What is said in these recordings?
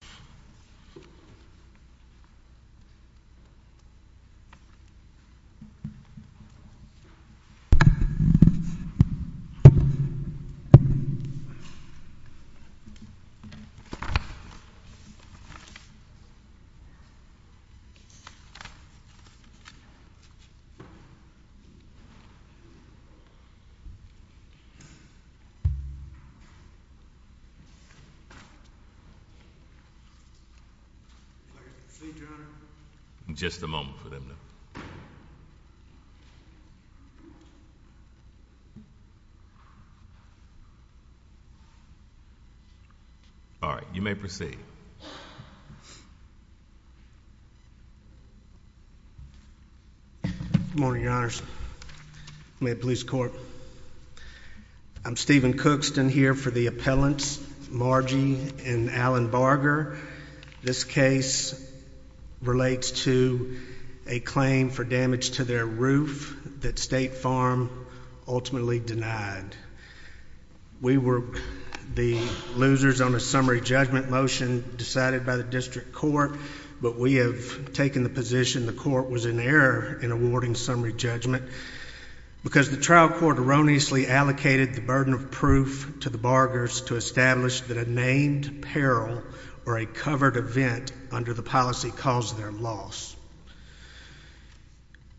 Attorney, Stephen Cookston. Just a moment for them. Alright, you may proceed. Good morning, your honors. I'm here at Police Court. I'm Stephen Cookston here for the appellants, Margie and Alan Barger. This case relates to a claim for damage to their roof that State Farm ultimately denied. We were the losers on a summary judgment motion decided by the district court, but we have taken the position the court was in error in awarding summary judgment because the trial court erroneously allocated the burden of proof to the jurors to establish that a named peril or a covered event under the policy caused their loss.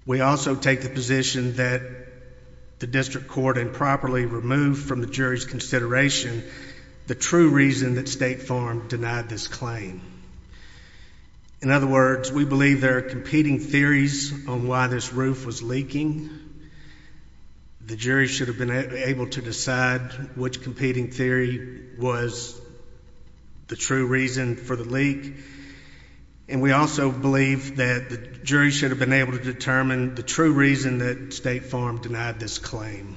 We also take the position that the district court improperly removed from the jury's consideration the true reason that State Farm denied this claim. In other words, we believe there are competing theories on why this roof was leaking. The jury should have been able to decide which competing theory was the true reason for the leak. And we also believe that the jury should have been able to determine the true reason that State Farm denied this claim.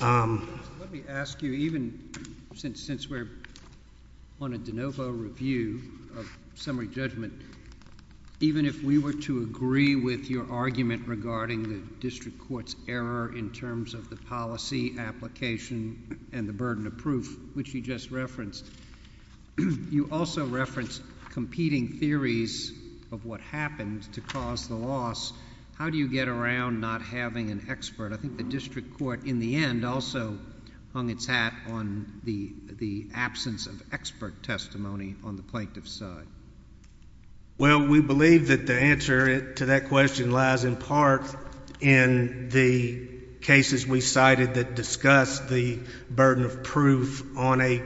Let me ask you, even since we're on a de novo review of summary judgment, even if we were to agree with your argument regarding the district court's error in terms of the policy application and the burden of proof, which you just referenced, you also reference competing theories of what happened to cause the loss. How do you get around not having an expert? I think the district court in the end also hung its hat on the absence of expert testimony on the plaintiff's side. Well, we believe that the answer to that question lies in part in the cases we cited that discussed the burden of proof on a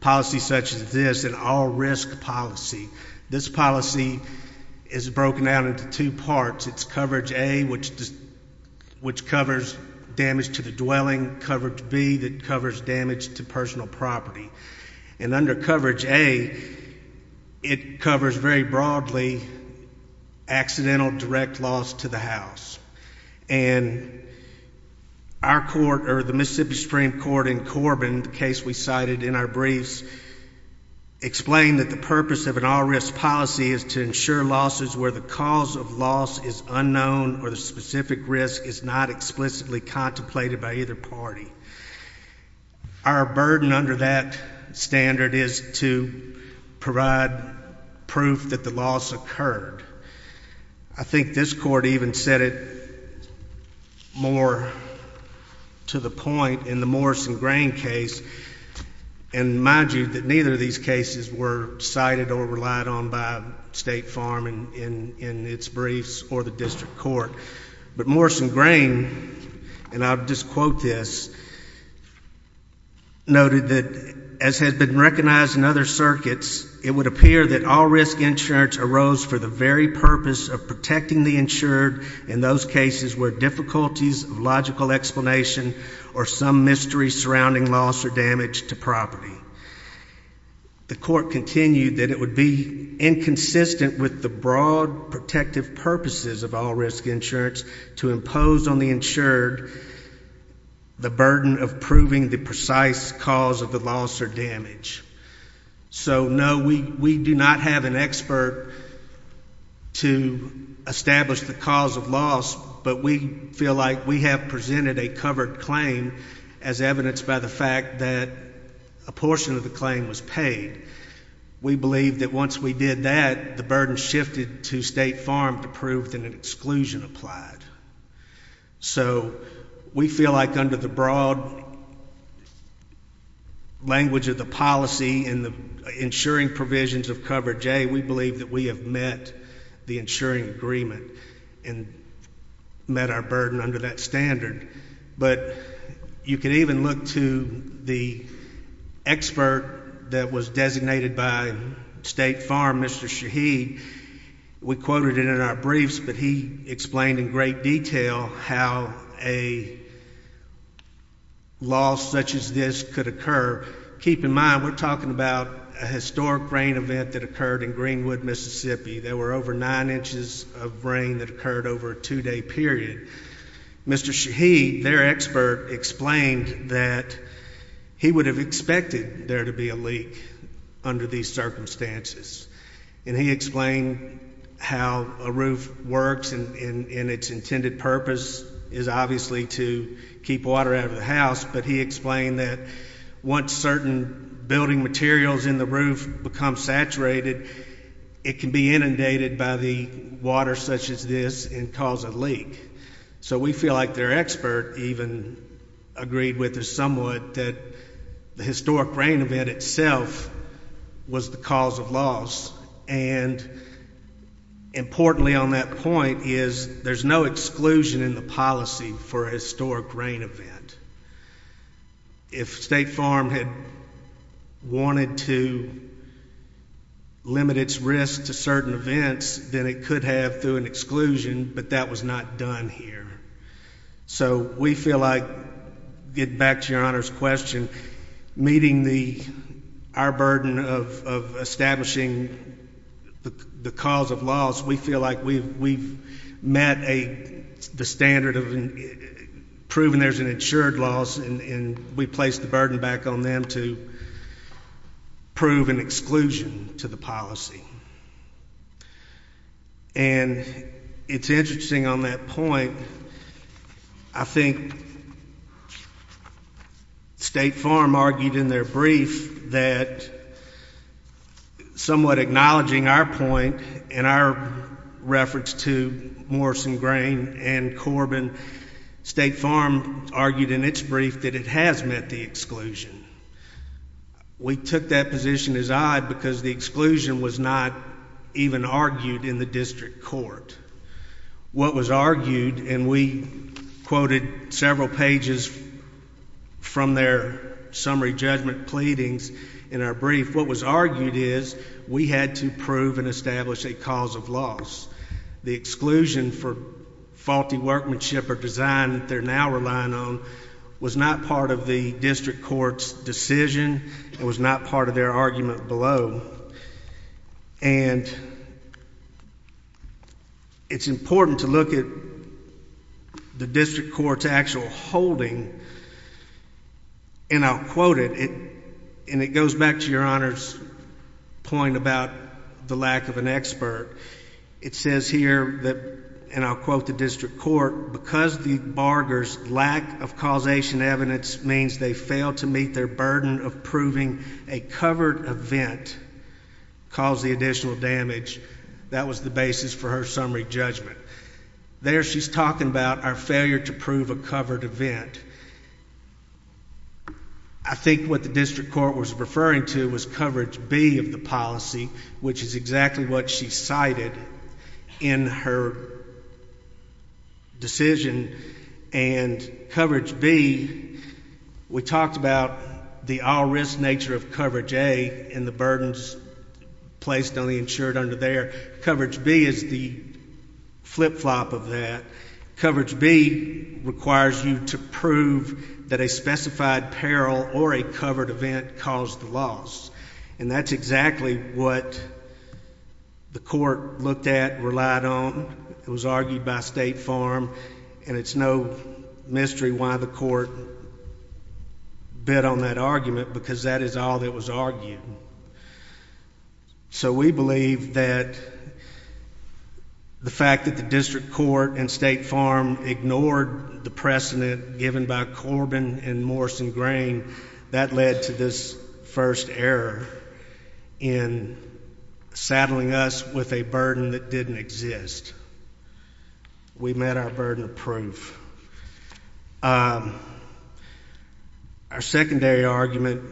policy such as this, an all-risk policy. This policy is broken down into two parts. It's coverage A, which covers damage to the dwelling, coverage B, that covers damage to personal property. And under coverage A, it covers very broadly accidental direct loss to the house. And our court, or the Mississippi Supreme Court in Corbin, the case we cited in our briefs, explained that the purpose of an all-risk policy is to ensure losses where the cause of loss is unknown or the specific risk is not explicitly contemplated by either party. Our burden under that standard is to provide proof that the loss occurred. I think this court even said it more to the point in the Morrison-Grain case and mind you that neither of these cases were cited or relied on by State Farm in its briefs or the district court. But Morrison-Grain, and I'll just quote this, noted that as has been recognized in other circuits, it would appear that all-risk insurance arose for the very purpose of protecting the insured in those cases where difficulties of logical explanation or some mystery surrounding loss or damage to property. The court continued that it would be inconsistent with the broad protective purposes of all-risk insurance to impose on the insured the burden of proving the precise cause of the loss or damage. So no, we do not have an expert to establish the cause of loss, but we feel like we have presented a covered claim as evidenced by the fact that a portion of the claim was paid. We believe that once we did that, the burden shifted to State Farm to prove that an exclusion applied. So we feel like under the broad language of the policy and the insuring provisions of Cover J, we believe that we have met the insuring agreement and met our burden under that standard. But you can even look to the expert that was designated by State Farm, Mr. Shaheed. We quoted it in our briefs, but he explained in great detail how a loss such as this could occur. Keep in mind, we're talking about a historic rain event that occurred in Greenwood, Mississippi. There were over nine inches of rain that occurred over a two-day period. Mr. Shaheed, their expert, explained that he would have expected there to be a leak under these circumstances. And he explained how a roof works and its intended purpose is obviously to keep water out of the house, but he explained that once certain building materials in the roof become saturated, it can be inundated by the water such as this and cause a leak. So we feel like their expert even agreed with us somewhat that the historic rain event itself was the cause of loss. And importantly on that point is there's no exclusion in the policy for a historic rain event. If State Farm had wanted to limit its risk to certain events, then it could have through an exclusion, but that was not done here. So we feel like, getting back to Your Honor's question, meeting our burden of establishing the cause of loss, we feel like we've met the standard of proving there's an insured loss and we place the burden back on them to prove an exclusion to the policy. And it's interesting on that point, I think State Farm argued in their brief that somewhat acknowledging our point and our reference to Morrison Grain and Corbin, State Farm argued in its brief that it has met the exclusion. We took that position as odd because the exclusion was not even argued in the district court. What was argued, and we quoted several pages from their summary judgment and their pleadings in our brief, what was argued is we had to prove and establish a cause of loss. The exclusion for faulty workmanship or design that they're now relying on was not part of the district court's decision. It was not part of their argument below. And it's important to look at the district court's actual holding and I'll quote it, and it goes back to Your Honor's point about the lack of an expert. It says here, and I'll quote the district court, because the bargers' lack of causation evidence means they failed to meet their burden of proving a covered event caused the additional damage, that was the basis for her summary judgment. There she's talking about our failure to prove a covered event. I think what the district court was referring to was coverage B of the policy which is exactly what she cited in her decision and coverage B, we talked about the all risk nature of coverage A and the burdens placed on the insured under there. Coverage B is the flip flop of that. Coverage B requires you to prove that a specified peril or a covered event caused the loss and that's exactly what the court looked at and relied on. It was argued by State Farm and it's no mystery why the court bet on that argument because that is all that was argued. So we believe that the fact that the district court and State Farm ignored the precedent given by Corbin and Morrison-Grain, that led to this first error in saddling us with a burden that didn't exist. We met our burden of proof. Our secondary argument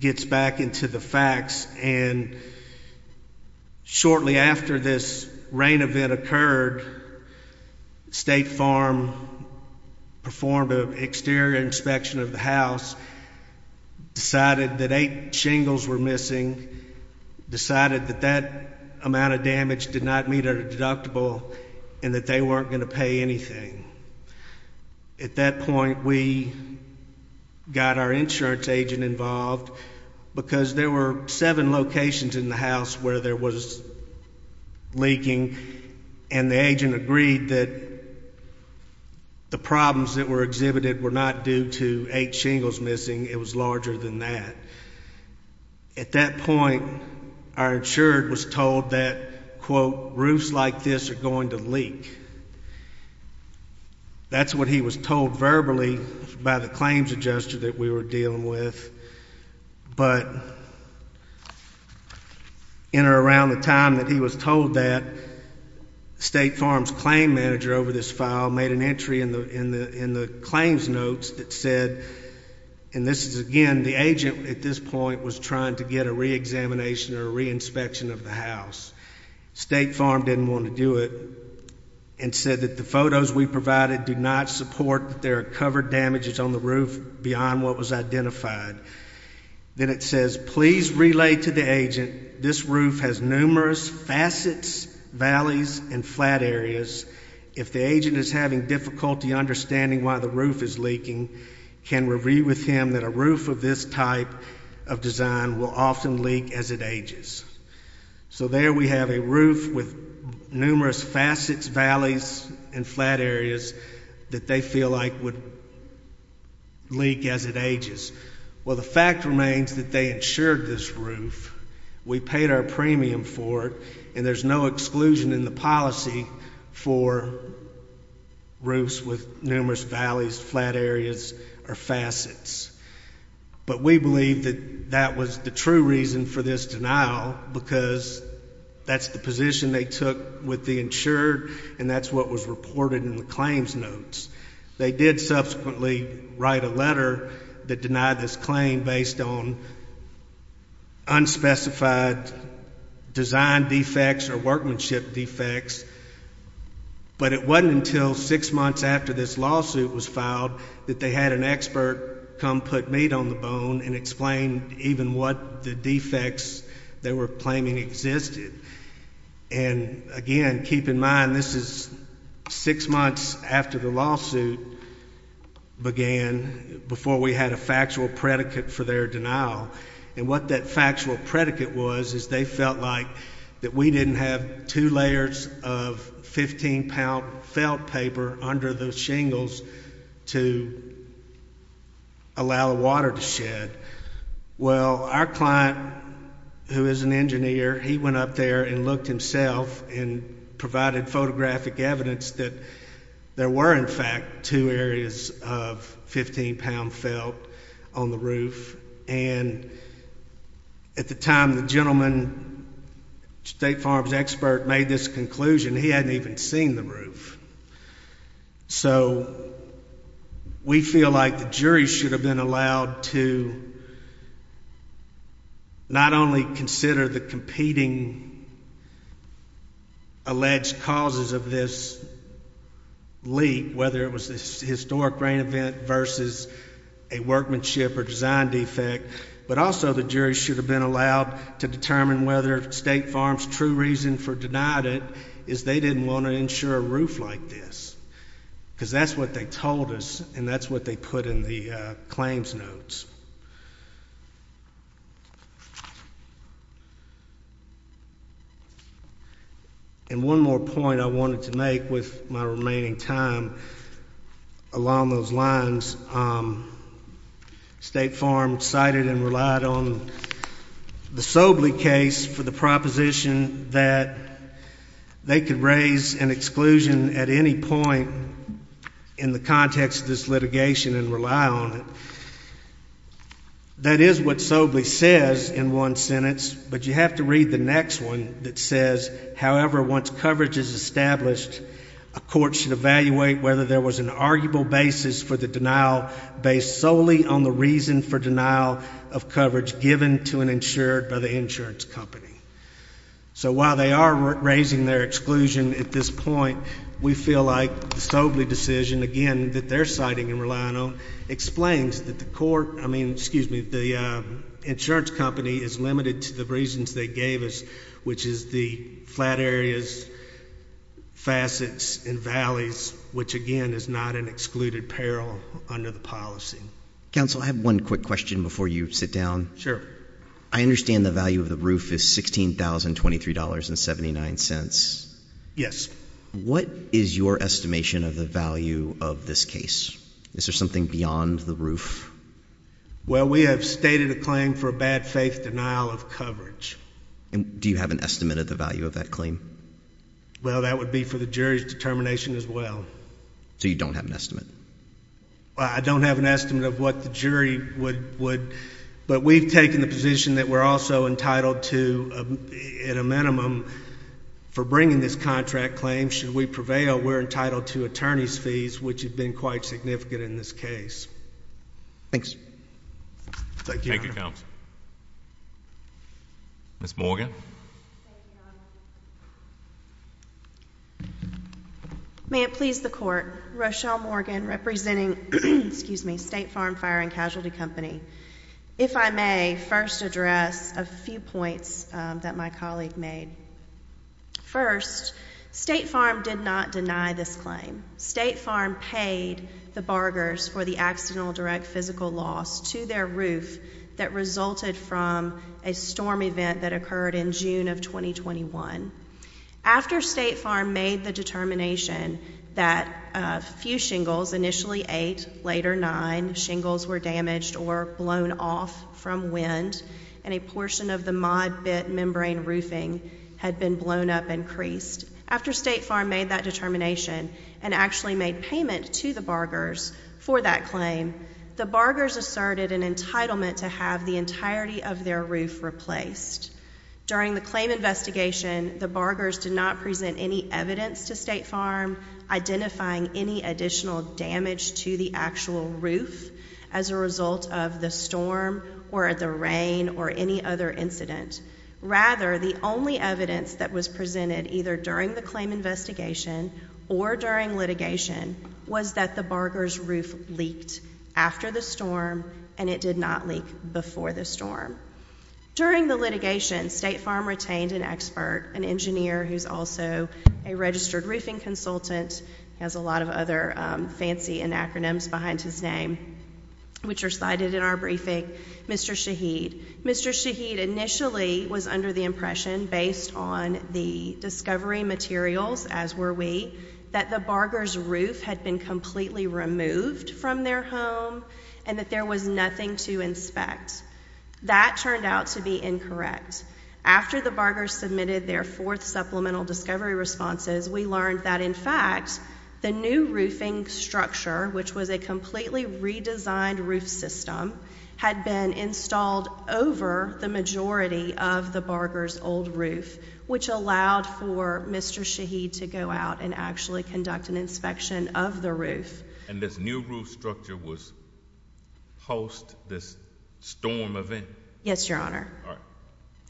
gets back into the facts and shortly after this rain event occurred, State Farm performed an exterior inspection of the house decided that eight shingles were missing, decided that that amount of damage did not meet our deductible and that they weren't going to pay anything. At that point we got our insurance agent involved because there were seven locations in the house where there was leaking and the agent agreed that the problems that were exhibited were not due to eight shingles missing, it was larger than that. At that point, our insured was told that quote, roofs like this are going to leak. That's what he was told verbally by the claims adjuster that we were dealing with, but in or around the time that he was told that State Farm's claim manager over this file made an entry in the claims notes that said, and this is again, the agent at this point was trying to get a re-examination or re-inspection of the house. State Farm didn't want to do it and said that the photos we provided do not support that there are covered damages on the roof beyond what was identified. Then it says, please relay to the agent this roof has numerous facets, valleys, and flat areas. If the agent is having difficulty understanding why the roof is leaking, can we read with him that a roof of this type of design will often leak as it ages. So there we have a roof with numerous facets, valleys, and flat areas that they feel like would leak as it ages. Well, the fact remains that they insured this roof. We paid our premium for it, and there's no exclusion in the policy for roofs with numerous valleys, flat areas, or facets. But we believe that that was the true reason for this denial because that's the position they took with the insured and that's what was reported in the claims notes. They did subsequently write a letter that denied this claim based on unspecified design defects or workmanship defects, but it wasn't until six months after this lawsuit was filed that they had an expert come put meat on the bone and explain even what the defects they were claiming existed. And again, keep in mind this is six months after the lawsuit began before we had a factual predicate for their denial. And what that factual predicate was is they felt like that we didn't have two layers of 15-pound felt paper under those shingles to allow the water to shed. Well, our client who is an engineer, he went up there and looked himself and provided photographic evidence that there were in fact two areas of 15-pound felt on the roof, and at the time the gentleman, State Farms expert, made this conclusion he hadn't even seen the roof. So we feel like the jury should have been allowed to not only consider the competing alleged causes of this leak, whether it was this historic rain event versus a workmanship or design defect, but also the jury should have been allowed to determine whether State Farms' true reason for denying it is they didn't want to insure a roof like this. Because that's what they told us, and that's what they put in the claims notes. And one more point I wanted to make with my remaining time along those lines, State Farms cited and relied on the Sobley case for the proposition that they could raise an exclusion at any point in the context of this litigation and rely on it. That is what Sobley says in one sentence, but you have to read the next one that says, however, once coverage is established a court should evaluate whether there was an arguable basis for the denial based solely on the reason for denial of coverage given to an insured by the insurance company. So while they are raising their exclusion at this point, we feel like the Sobley decision, again, that they're citing and relying on, explains that the insurance company is limited to the reasons they gave us, which is the flat areas, facets, and valleys, which again is not an excluded peril under the policy. I have one quick question before you sit down. I understand the value of the roof is $16,023.79. Yes. What is your estimation of the value of this case? Is there something beyond the roof? Well, we have stated a claim for a bad faith denial of coverage. Do you have an estimate of the value of that claim? Well, that would be for the jury's determination as well. So you don't have an estimate? I don't have an estimate of what the jury would, but we've taken the position that we're also entitled to, at a minimum, for bringing this contract claim. Should we prevail, we're entitled to attorney's fees, which have been quite significant in this case. Thanks. Thank you, Your Honor. Ms. Morgan. May it please the Court, Rochelle Morgan, representing State Farm Fire and Casualty Company. If I may, first address a few points that my colleague made. First, State Farm did not deny this claim. State Farm paid the bargers for the accidental direct physical loss to their roof that resulted from a storm event that occurred in June of 2021. After State Farm made the determination that a few shingles, initially eight, later nine shingles were damaged or blown off from wind and a portion of the mod bit membrane roofing had been blown up and creased. After State Farm made that determination and actually made payment to the bargers for that claim, the bargers asserted an entitlement to have the entirety of their roof replaced. During the claim investigation, the bargers did not present any evidence to State Farm identifying any additional damage to the actual roof as a result of the storm or the rain or any other incident. Rather, the only evidence that was presented either during the claim investigation or during litigation was that the barger's roof leaked after the storm and it did not leak before the storm. During the litigation, State Farm retained an expert, an engineer who's also a registered roofing consultant. He has a lot of other fancy acronyms behind his name which are cited in our briefing. Mr. Shaheed. Mr. Shaheed initially was under the impression based on the discovery materials, as were we, that the barger's roof had been completely removed from their home and that there was nothing to inspect. That turned out to be incorrect. After the bargers submitted their fourth supplemental discovery responses, we learned that in fact the new roofing structure which was a completely redesigned roof system had been installed over the majority of the barger's old roof which allowed for Mr. Shaheed to go out and actually conduct an inspection of the roof. And this new roof structure was post this storm event? Yes, Your Honor.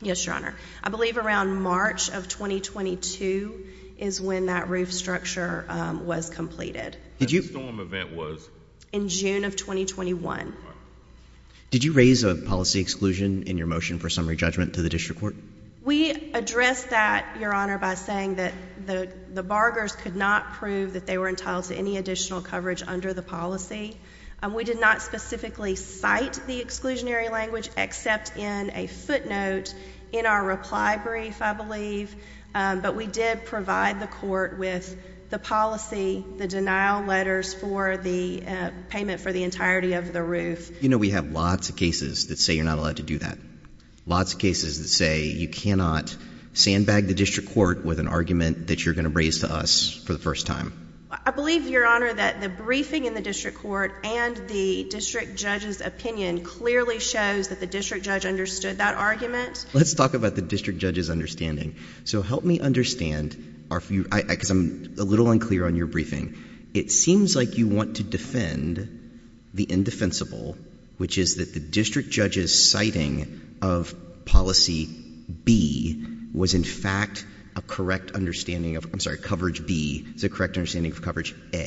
Yes, Your Honor. I believe around March of 2022 is when that roof structure was completed. That storm event was? In June of 2021. Did you raise a policy exclusion in your motion for summary judgment to the district court? We addressed that, Your Honor, by saying that the bargers could not prove that they were entitled to any additional coverage under the policy. We did not specifically cite the exclusionary language except in a footnote in our reply brief, I believe. But we did provide the court with the policy, the denial letters for the payment for the entirety of the roof. You know we have lots of cases that say you're not allowed to do that. Lots of cases that say you cannot sandbag the district court with an argument that you're going to raise to us for the first time. I believe, Your Honor, that the briefing in the district court and the district judge's opinion clearly shows that the district judge understood that argument. Let's talk about the district judge's understanding. So help me understand, because I'm a little unclear on your briefing. It seems like you want to defend the indefensible which is that the district judge's citing of policy B was in fact a correct understanding of coverage A.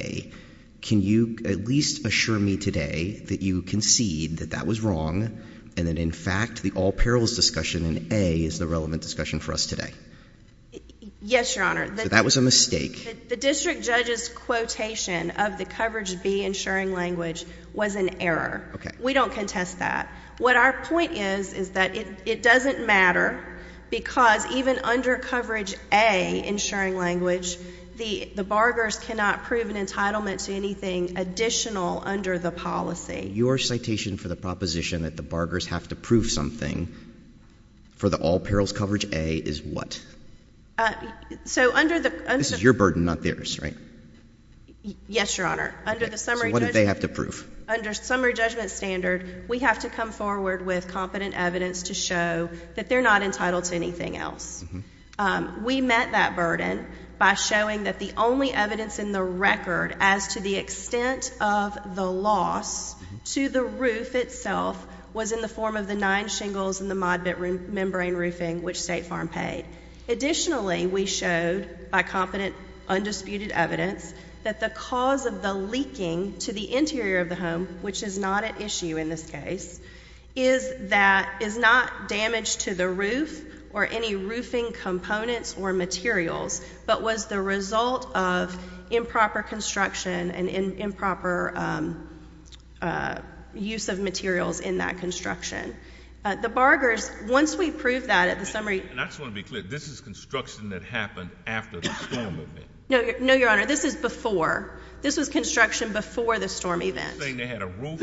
Can you at least assure me today that you concede that that was wrong and that in fact the all-perils discussion in A is the relevant discussion for us today? Yes, Your Honor. So that was a mistake? The district judge's quotation of the coverage B in sharing language was an error. We don't contest that. What our point is is that it doesn't matter because even under coverage A in sharing language, the bargers cannot prove an entitlement to anything additional under the policy. Your citation for the proposition that the bargers have to prove something for the all-perils coverage A is what? This is your burden, not theirs, right? Yes, Your Honor. Under the summary judgment standard we have to come forward with competent evidence to show that they're not entitled to anything else. We met that burden by showing that the only evidence in the record as to the extent of the loss to the roof itself was in the form of the nine shingles and the mod bit membrane roofing which State Farm paid. Additionally, we showed by competent undisputed evidence that the cause of the leaking to the interior of the home, which is not at issue in this case, is not damage to the roof or any roofing components or materials, but was the result of improper construction and improper use of materials in that construction. The bargers, once we prove that at the summary... And I just want to be clear, this is construction that happened after the storm event? No, Your Honor, this is before. This was construction before the storm event. You're saying they had a roof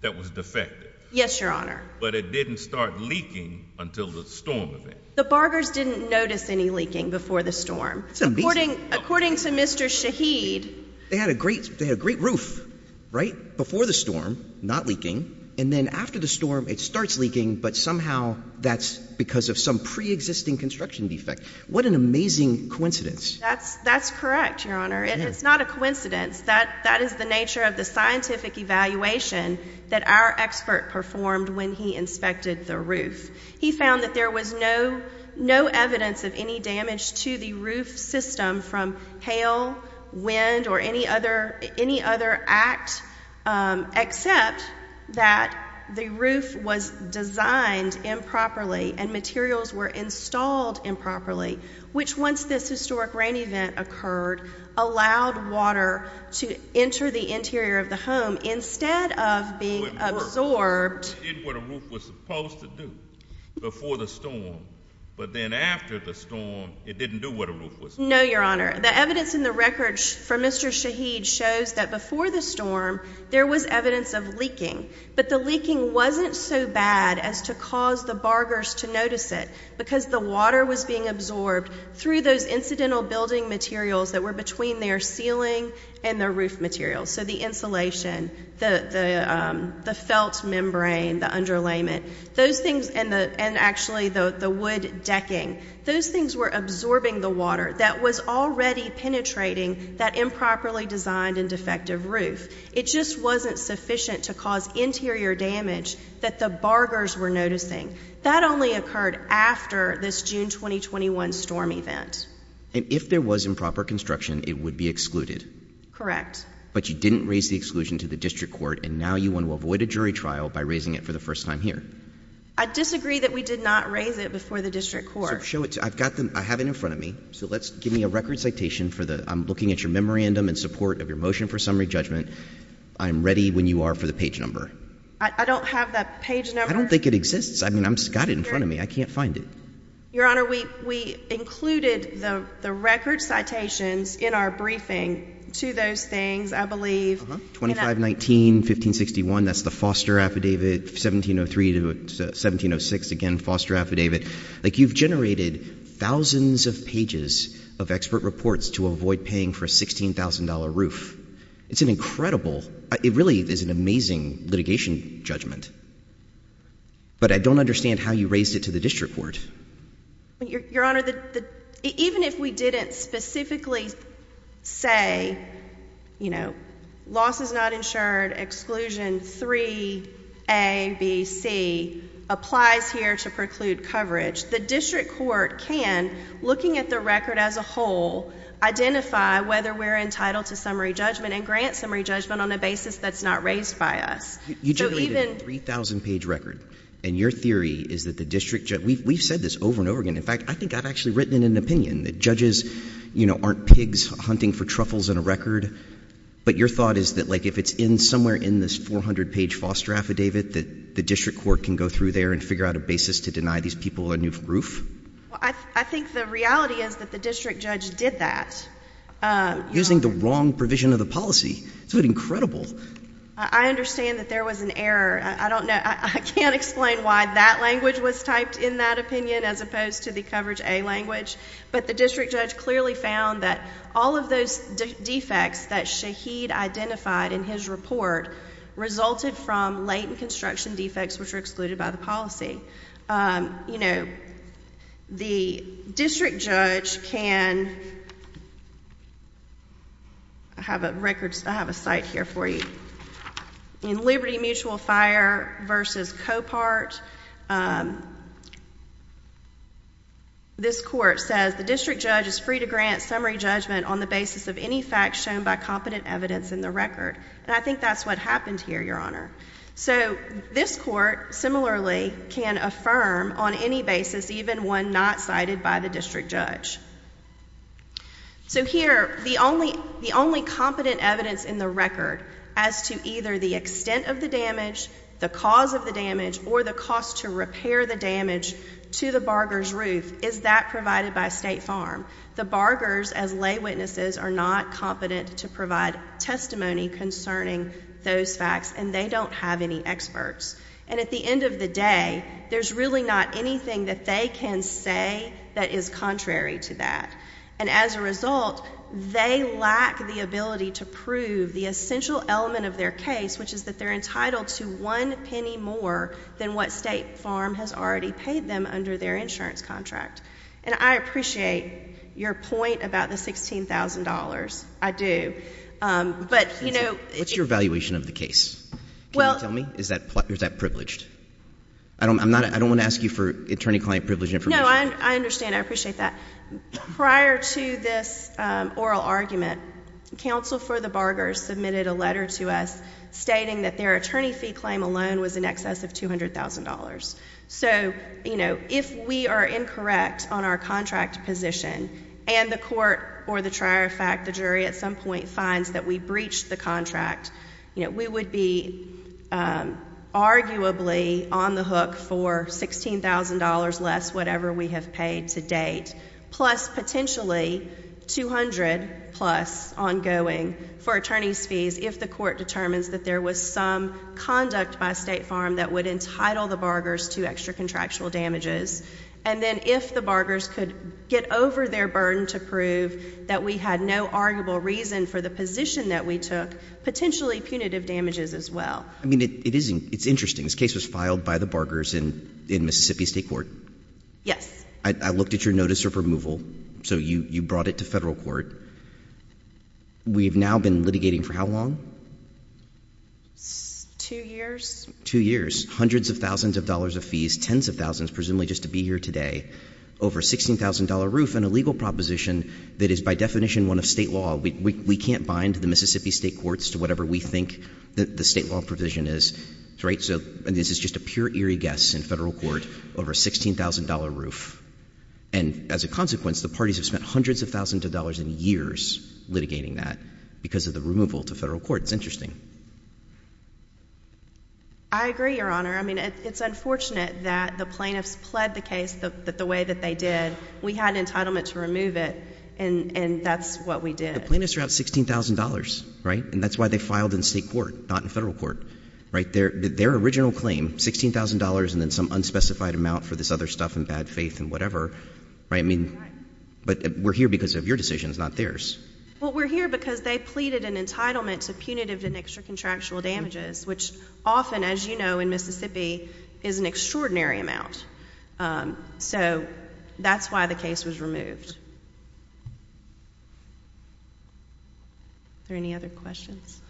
that was defective? Yes, Your Honor. But it didn't start leaking until the storm event? The bargers didn't notice any leaking before the storm. According to Mr. Shaheed... They had a great roof, right? Before the storm, not leaking, and then after the storm it starts leaking but somehow that's because of some pre-existing construction defect. What an amazing coincidence. That's correct, Your Honor. It's not a coincidence. That is the nature of the scientific evaluation that our expert performed when he inspected the roof. He found that there was no evidence of any damage to the roof system from hail, wind, or any other act except that the roof was designed improperly and materials were installed improperly, which once this historic rain event occurred, allowed water to enter the interior of the home instead of being absorbed... It did what a roof was supposed to do before the storm, but then after the storm, it didn't do what a roof was supposed to do. No, Your Honor. The evidence in the records from Mr. Shaheed shows that before the storm, there was evidence of leaking, but the leaking wasn't so bad as to cause the bargers to notice it because the water was being absorbed through those incidental building materials that were between their ceiling and their roof materials, so the insulation, the felt membrane, the underlayment, those things, and actually the wood decking, those things were absorbing the water that was already penetrating that improperly designed and defective roof. It just wasn't sufficient to cause interior damage that the bargers were noticing. That only occurred after this June 2021 storm event. And if there was improper construction, it would be excluded? Correct. But you didn't raise the exclusion to the district court, and now you want to avoid a jury trial by raising it for the first time here? I disagree that we did not raise it before the district court. I have it in front of me, so give me a record citation. I'm looking at your memorandum in support of your motion for summary judgment. I'm ready when you are for the page number. I don't have that page number. I don't think it exists. I've got it in front of me. I can't find it. Your Honor, we included the record citations in our briefing to those things, I believe. 2519, 1561, that's a foster affidavit. 1703 to 1706, again, foster affidavit. You've generated thousands of pages of expert reports to avoid paying for a $16,000 roof. It's an incredible, it really is an amazing litigation judgment. But I don't understand how you raised it to the district court. Your Honor, even if we didn't specifically say, you know, loss is not assured, exclusion 3A, B, C, applies here to preclude coverage. The district court can, looking at the record as a whole, identify whether we're entitled to summary judgment and grant summary judgment on a basis that's not raised by us. You generated a 3,000-page record, and your theory is that the district judge, we've said this over and over again. In fact, I think I've actually written in an opinion that judges, you know, aren't pigs hunting for truffles in a record. But your thought is that, like, if it's somewhere in this 400-page foster affidavit, that the district court can go through there and figure out a basis to deny these people a new roof? Well, I think the reality is that the district judge did that. Using the wrong provision of the policy. Isn't it incredible? I understand that there was an error. I don't know, I can't explain why that language was typed in that opinion as opposed to the coverage A language. But the district judge clearly found that all of those defects that Shaheed identified in his report resulted from latent construction defects which are excluded by the policy. You know, the district judge can I have a site here for you. In Liberty Mutual Fire v. Copart, this court says, that the district judge is free to grant summary judgment on the basis of any facts shown by competent evidence in the record. And I think that's what happened here, Your Honor. So this court, similarly, can affirm on any basis even one not cited by the district judge. So here, the only competent evidence in the record as to either the extent of the damage, the cause of the damage, or the cost to repair the damage to the barger's roof is that provided by State Farm. The bargers, as lay witnesses, are not competent to provide testimony concerning those facts, and they don't have any experts. And at the end of the day, there's really not anything that they can say that is contrary to that. And as a result, they lack the ability to prove the essential element of their case, which is that they're entitled to one penny more than what State Farm has already paid them under their insurance contract. And I appreciate your point about the $16,000. I do. What's your evaluation of the case? Can you tell me? Is that privileged? I don't want to ask you for attorney-client privilege information. No, I understand. I appreciate that. Prior to this oral argument, counsel for the bargers submitted a letter to us stating that their attorney fee claim alone was in excess of $200,000. So, you know, if we are incorrect on our contract position, and the court or the trier of fact, the jury, at some point, finds that we breached the contract, we would be arguably on the hook for $16,000 less, whatever we have paid to date, plus potentially $200,000 plus ongoing for attorney's fees if the court determines that there was some conduct by State Farm that would entitle the bargers to extra-contractual damages. And then if the bargers could get over their burden to prove that we had no arguable reason for the position that we took, potentially punitive damages as well. I mean, it's interesting. This case was filed by the bargers in Mississippi State Court. Yes. I looked at your notice of removal. So you brought it to federal court. We've now been litigating for how long? Two years. Two years. Hundreds of thousands of dollars of fees, tens of thousands, presumably just to be here today, over a $16,000 roof and a legal proposition that is by definition one of state law. We can't bind the Mississippi State Courts to whatever we think the state law provision is, right? So this is just a pure eerie guess in federal court, over a $16,000 roof. And as a consequence, the parties have spent hundreds of thousands of dollars and years litigating that because of the removal to federal court. It's interesting. I agree, Your Honor. I mean, it's unfortunate that the plaintiffs pled the case the way that they did. We had an entitlement to remove it, and that's what we did. The plaintiffs are out $16,000, right? And that's why they filed in state court, not in federal court, right? Their original claim, $16,000 and then some unspecified amount for this other stuff and bad faith and whatever, right? I mean, but we're here because of your decisions, not theirs. Well, we're here because they pleaded an entitlement to punitive and extra contractual damages, which often, as you know, in Mississippi is an extraordinary amount. So that's why the case was removed. Are there any other questions?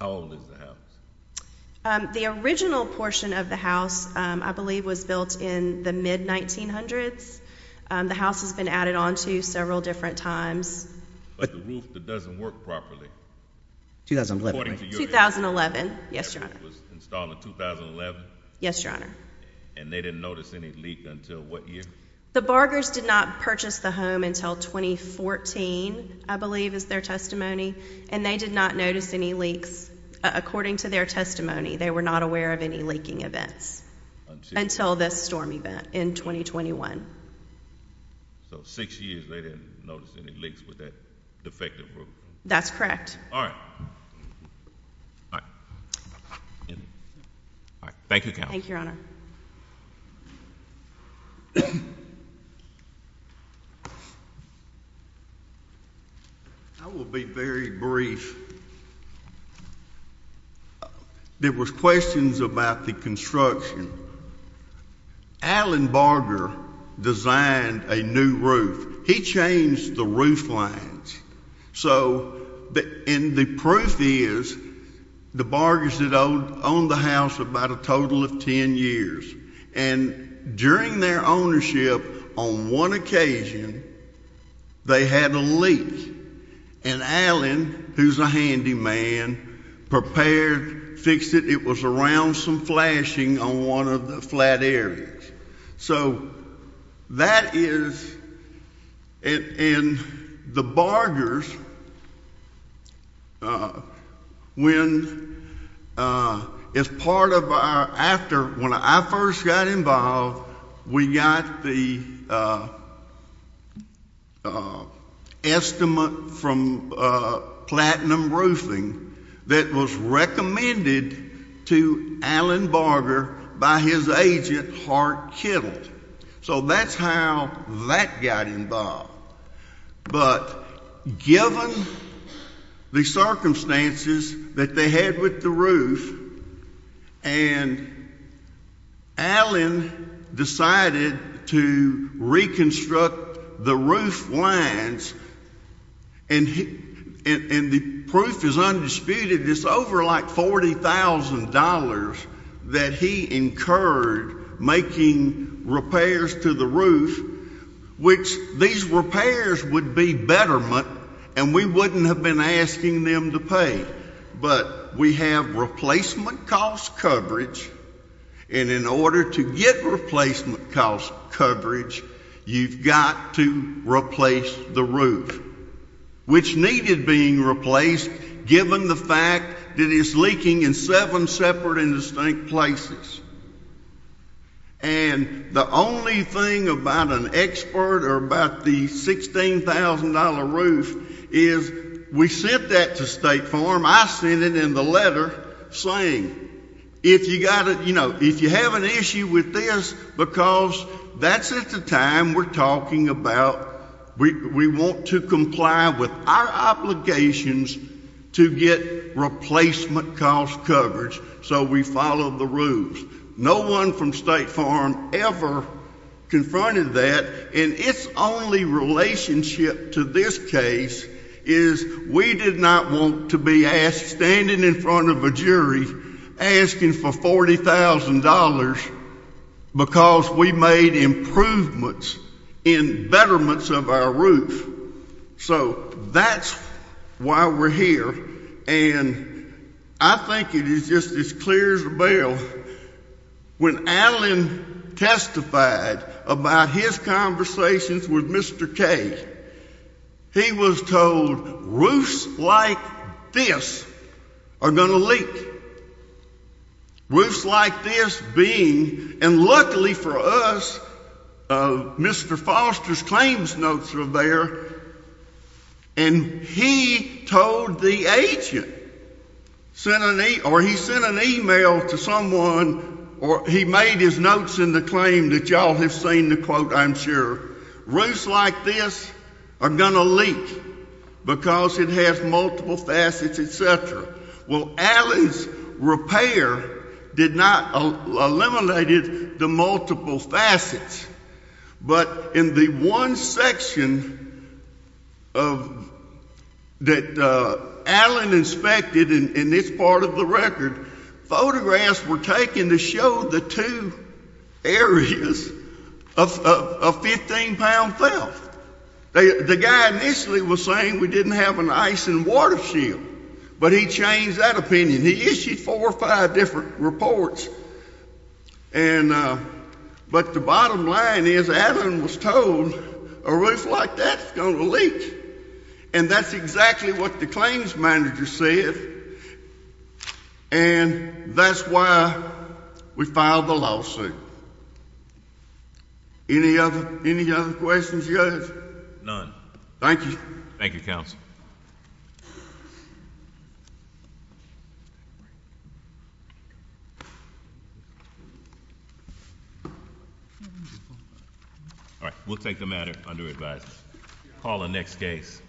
How old is the house? The original portion of the house I believe was built in the mid-1900s. The house has been added on to several different times. But the roof, it doesn't work properly. 2011, yes, Your Honor. And they didn't notice any leak until what year? The Bargers did not purchase the home until 2014, I believe is their testimony, and they did not notice any leaks. According to their testimony, they were not aware of any leaking events until this storm event in 2021. So six years they didn't notice any leaks with that defective roof. That's correct. All right. Thank you, Counsel. Thank you, Your Honor. I will be very brief. There was questions about the construction. Allen Barger designed a new roof. He changed the roof lines. And the proof is the Bargers had owned the house about a total of 10 years. And during their ownership, on one occasion, they had a leak. And Allen, who's a handyman, prepared, fixed it. It was around some flashing on one of the flat areas. So that is in the Bargers when it's part of our after, when I first got involved, we got the estimate from Platinum Roofing that was recommended to Allen Barger by his agent, Hart Kittle. So that's how that got involved. But given the circumstances that they had with the roof, and Allen decided to reconstruct the roof lines, and the proof is undisputed, it's over like $40,000 that he incurred making repairs to the roof, which these repairs would be betterment, and we wouldn't have been asking them to pay. But we have replacement cost coverage. And in order to get replacement cost coverage, you've got to replace the roof, which needed being replaced, given the fact that it's leaking in seven separate and distinct places. And the only thing about an expert or about the $16,000 roof is we sent that to State Farm. I sent it in the letter saying, if you have an issue with this, because that's at the time we're talking about, we want to comply with our obligations to get replacement cost coverage, so we follow the rules. No one from State Farm ever confronted that, and its only relationship to this case is we did not want to be asked, standing in front of a jury, asking for $40,000 because we made improvements in betterments of our roof. So that's why we're here. And I think it is just as clear as a bell. When Allen testified about his conversations with Mr. Kaye, he was told, roofs like this are going to leak. Roofs like this being and luckily for us, Mr. Foster's claims notes were there, and he told the agent, or he sent an email to someone, or he made his notes in the claim that y'all have seen the quote, I'm sure. Roofs like this are going to leak because it has multiple facets, et cetera. Well, Ally's repair did not eliminate the multiple facets, but in the one section that Allen inspected in this part of the record, photographs were taken to show the two areas of 15-pound filth. The guy initially was saying we didn't have an ice and water shield, but he changed that opinion. He issued four or five different reports, but the bottom line is Allen was told a roof like that's going to leak, and that's exactly what the claims manager said, and that's why we filed the lawsuit. Any other questions, Judge? None. Thank you. Thank you, Counsel. All right. We'll take the matter under advice. Call the next case.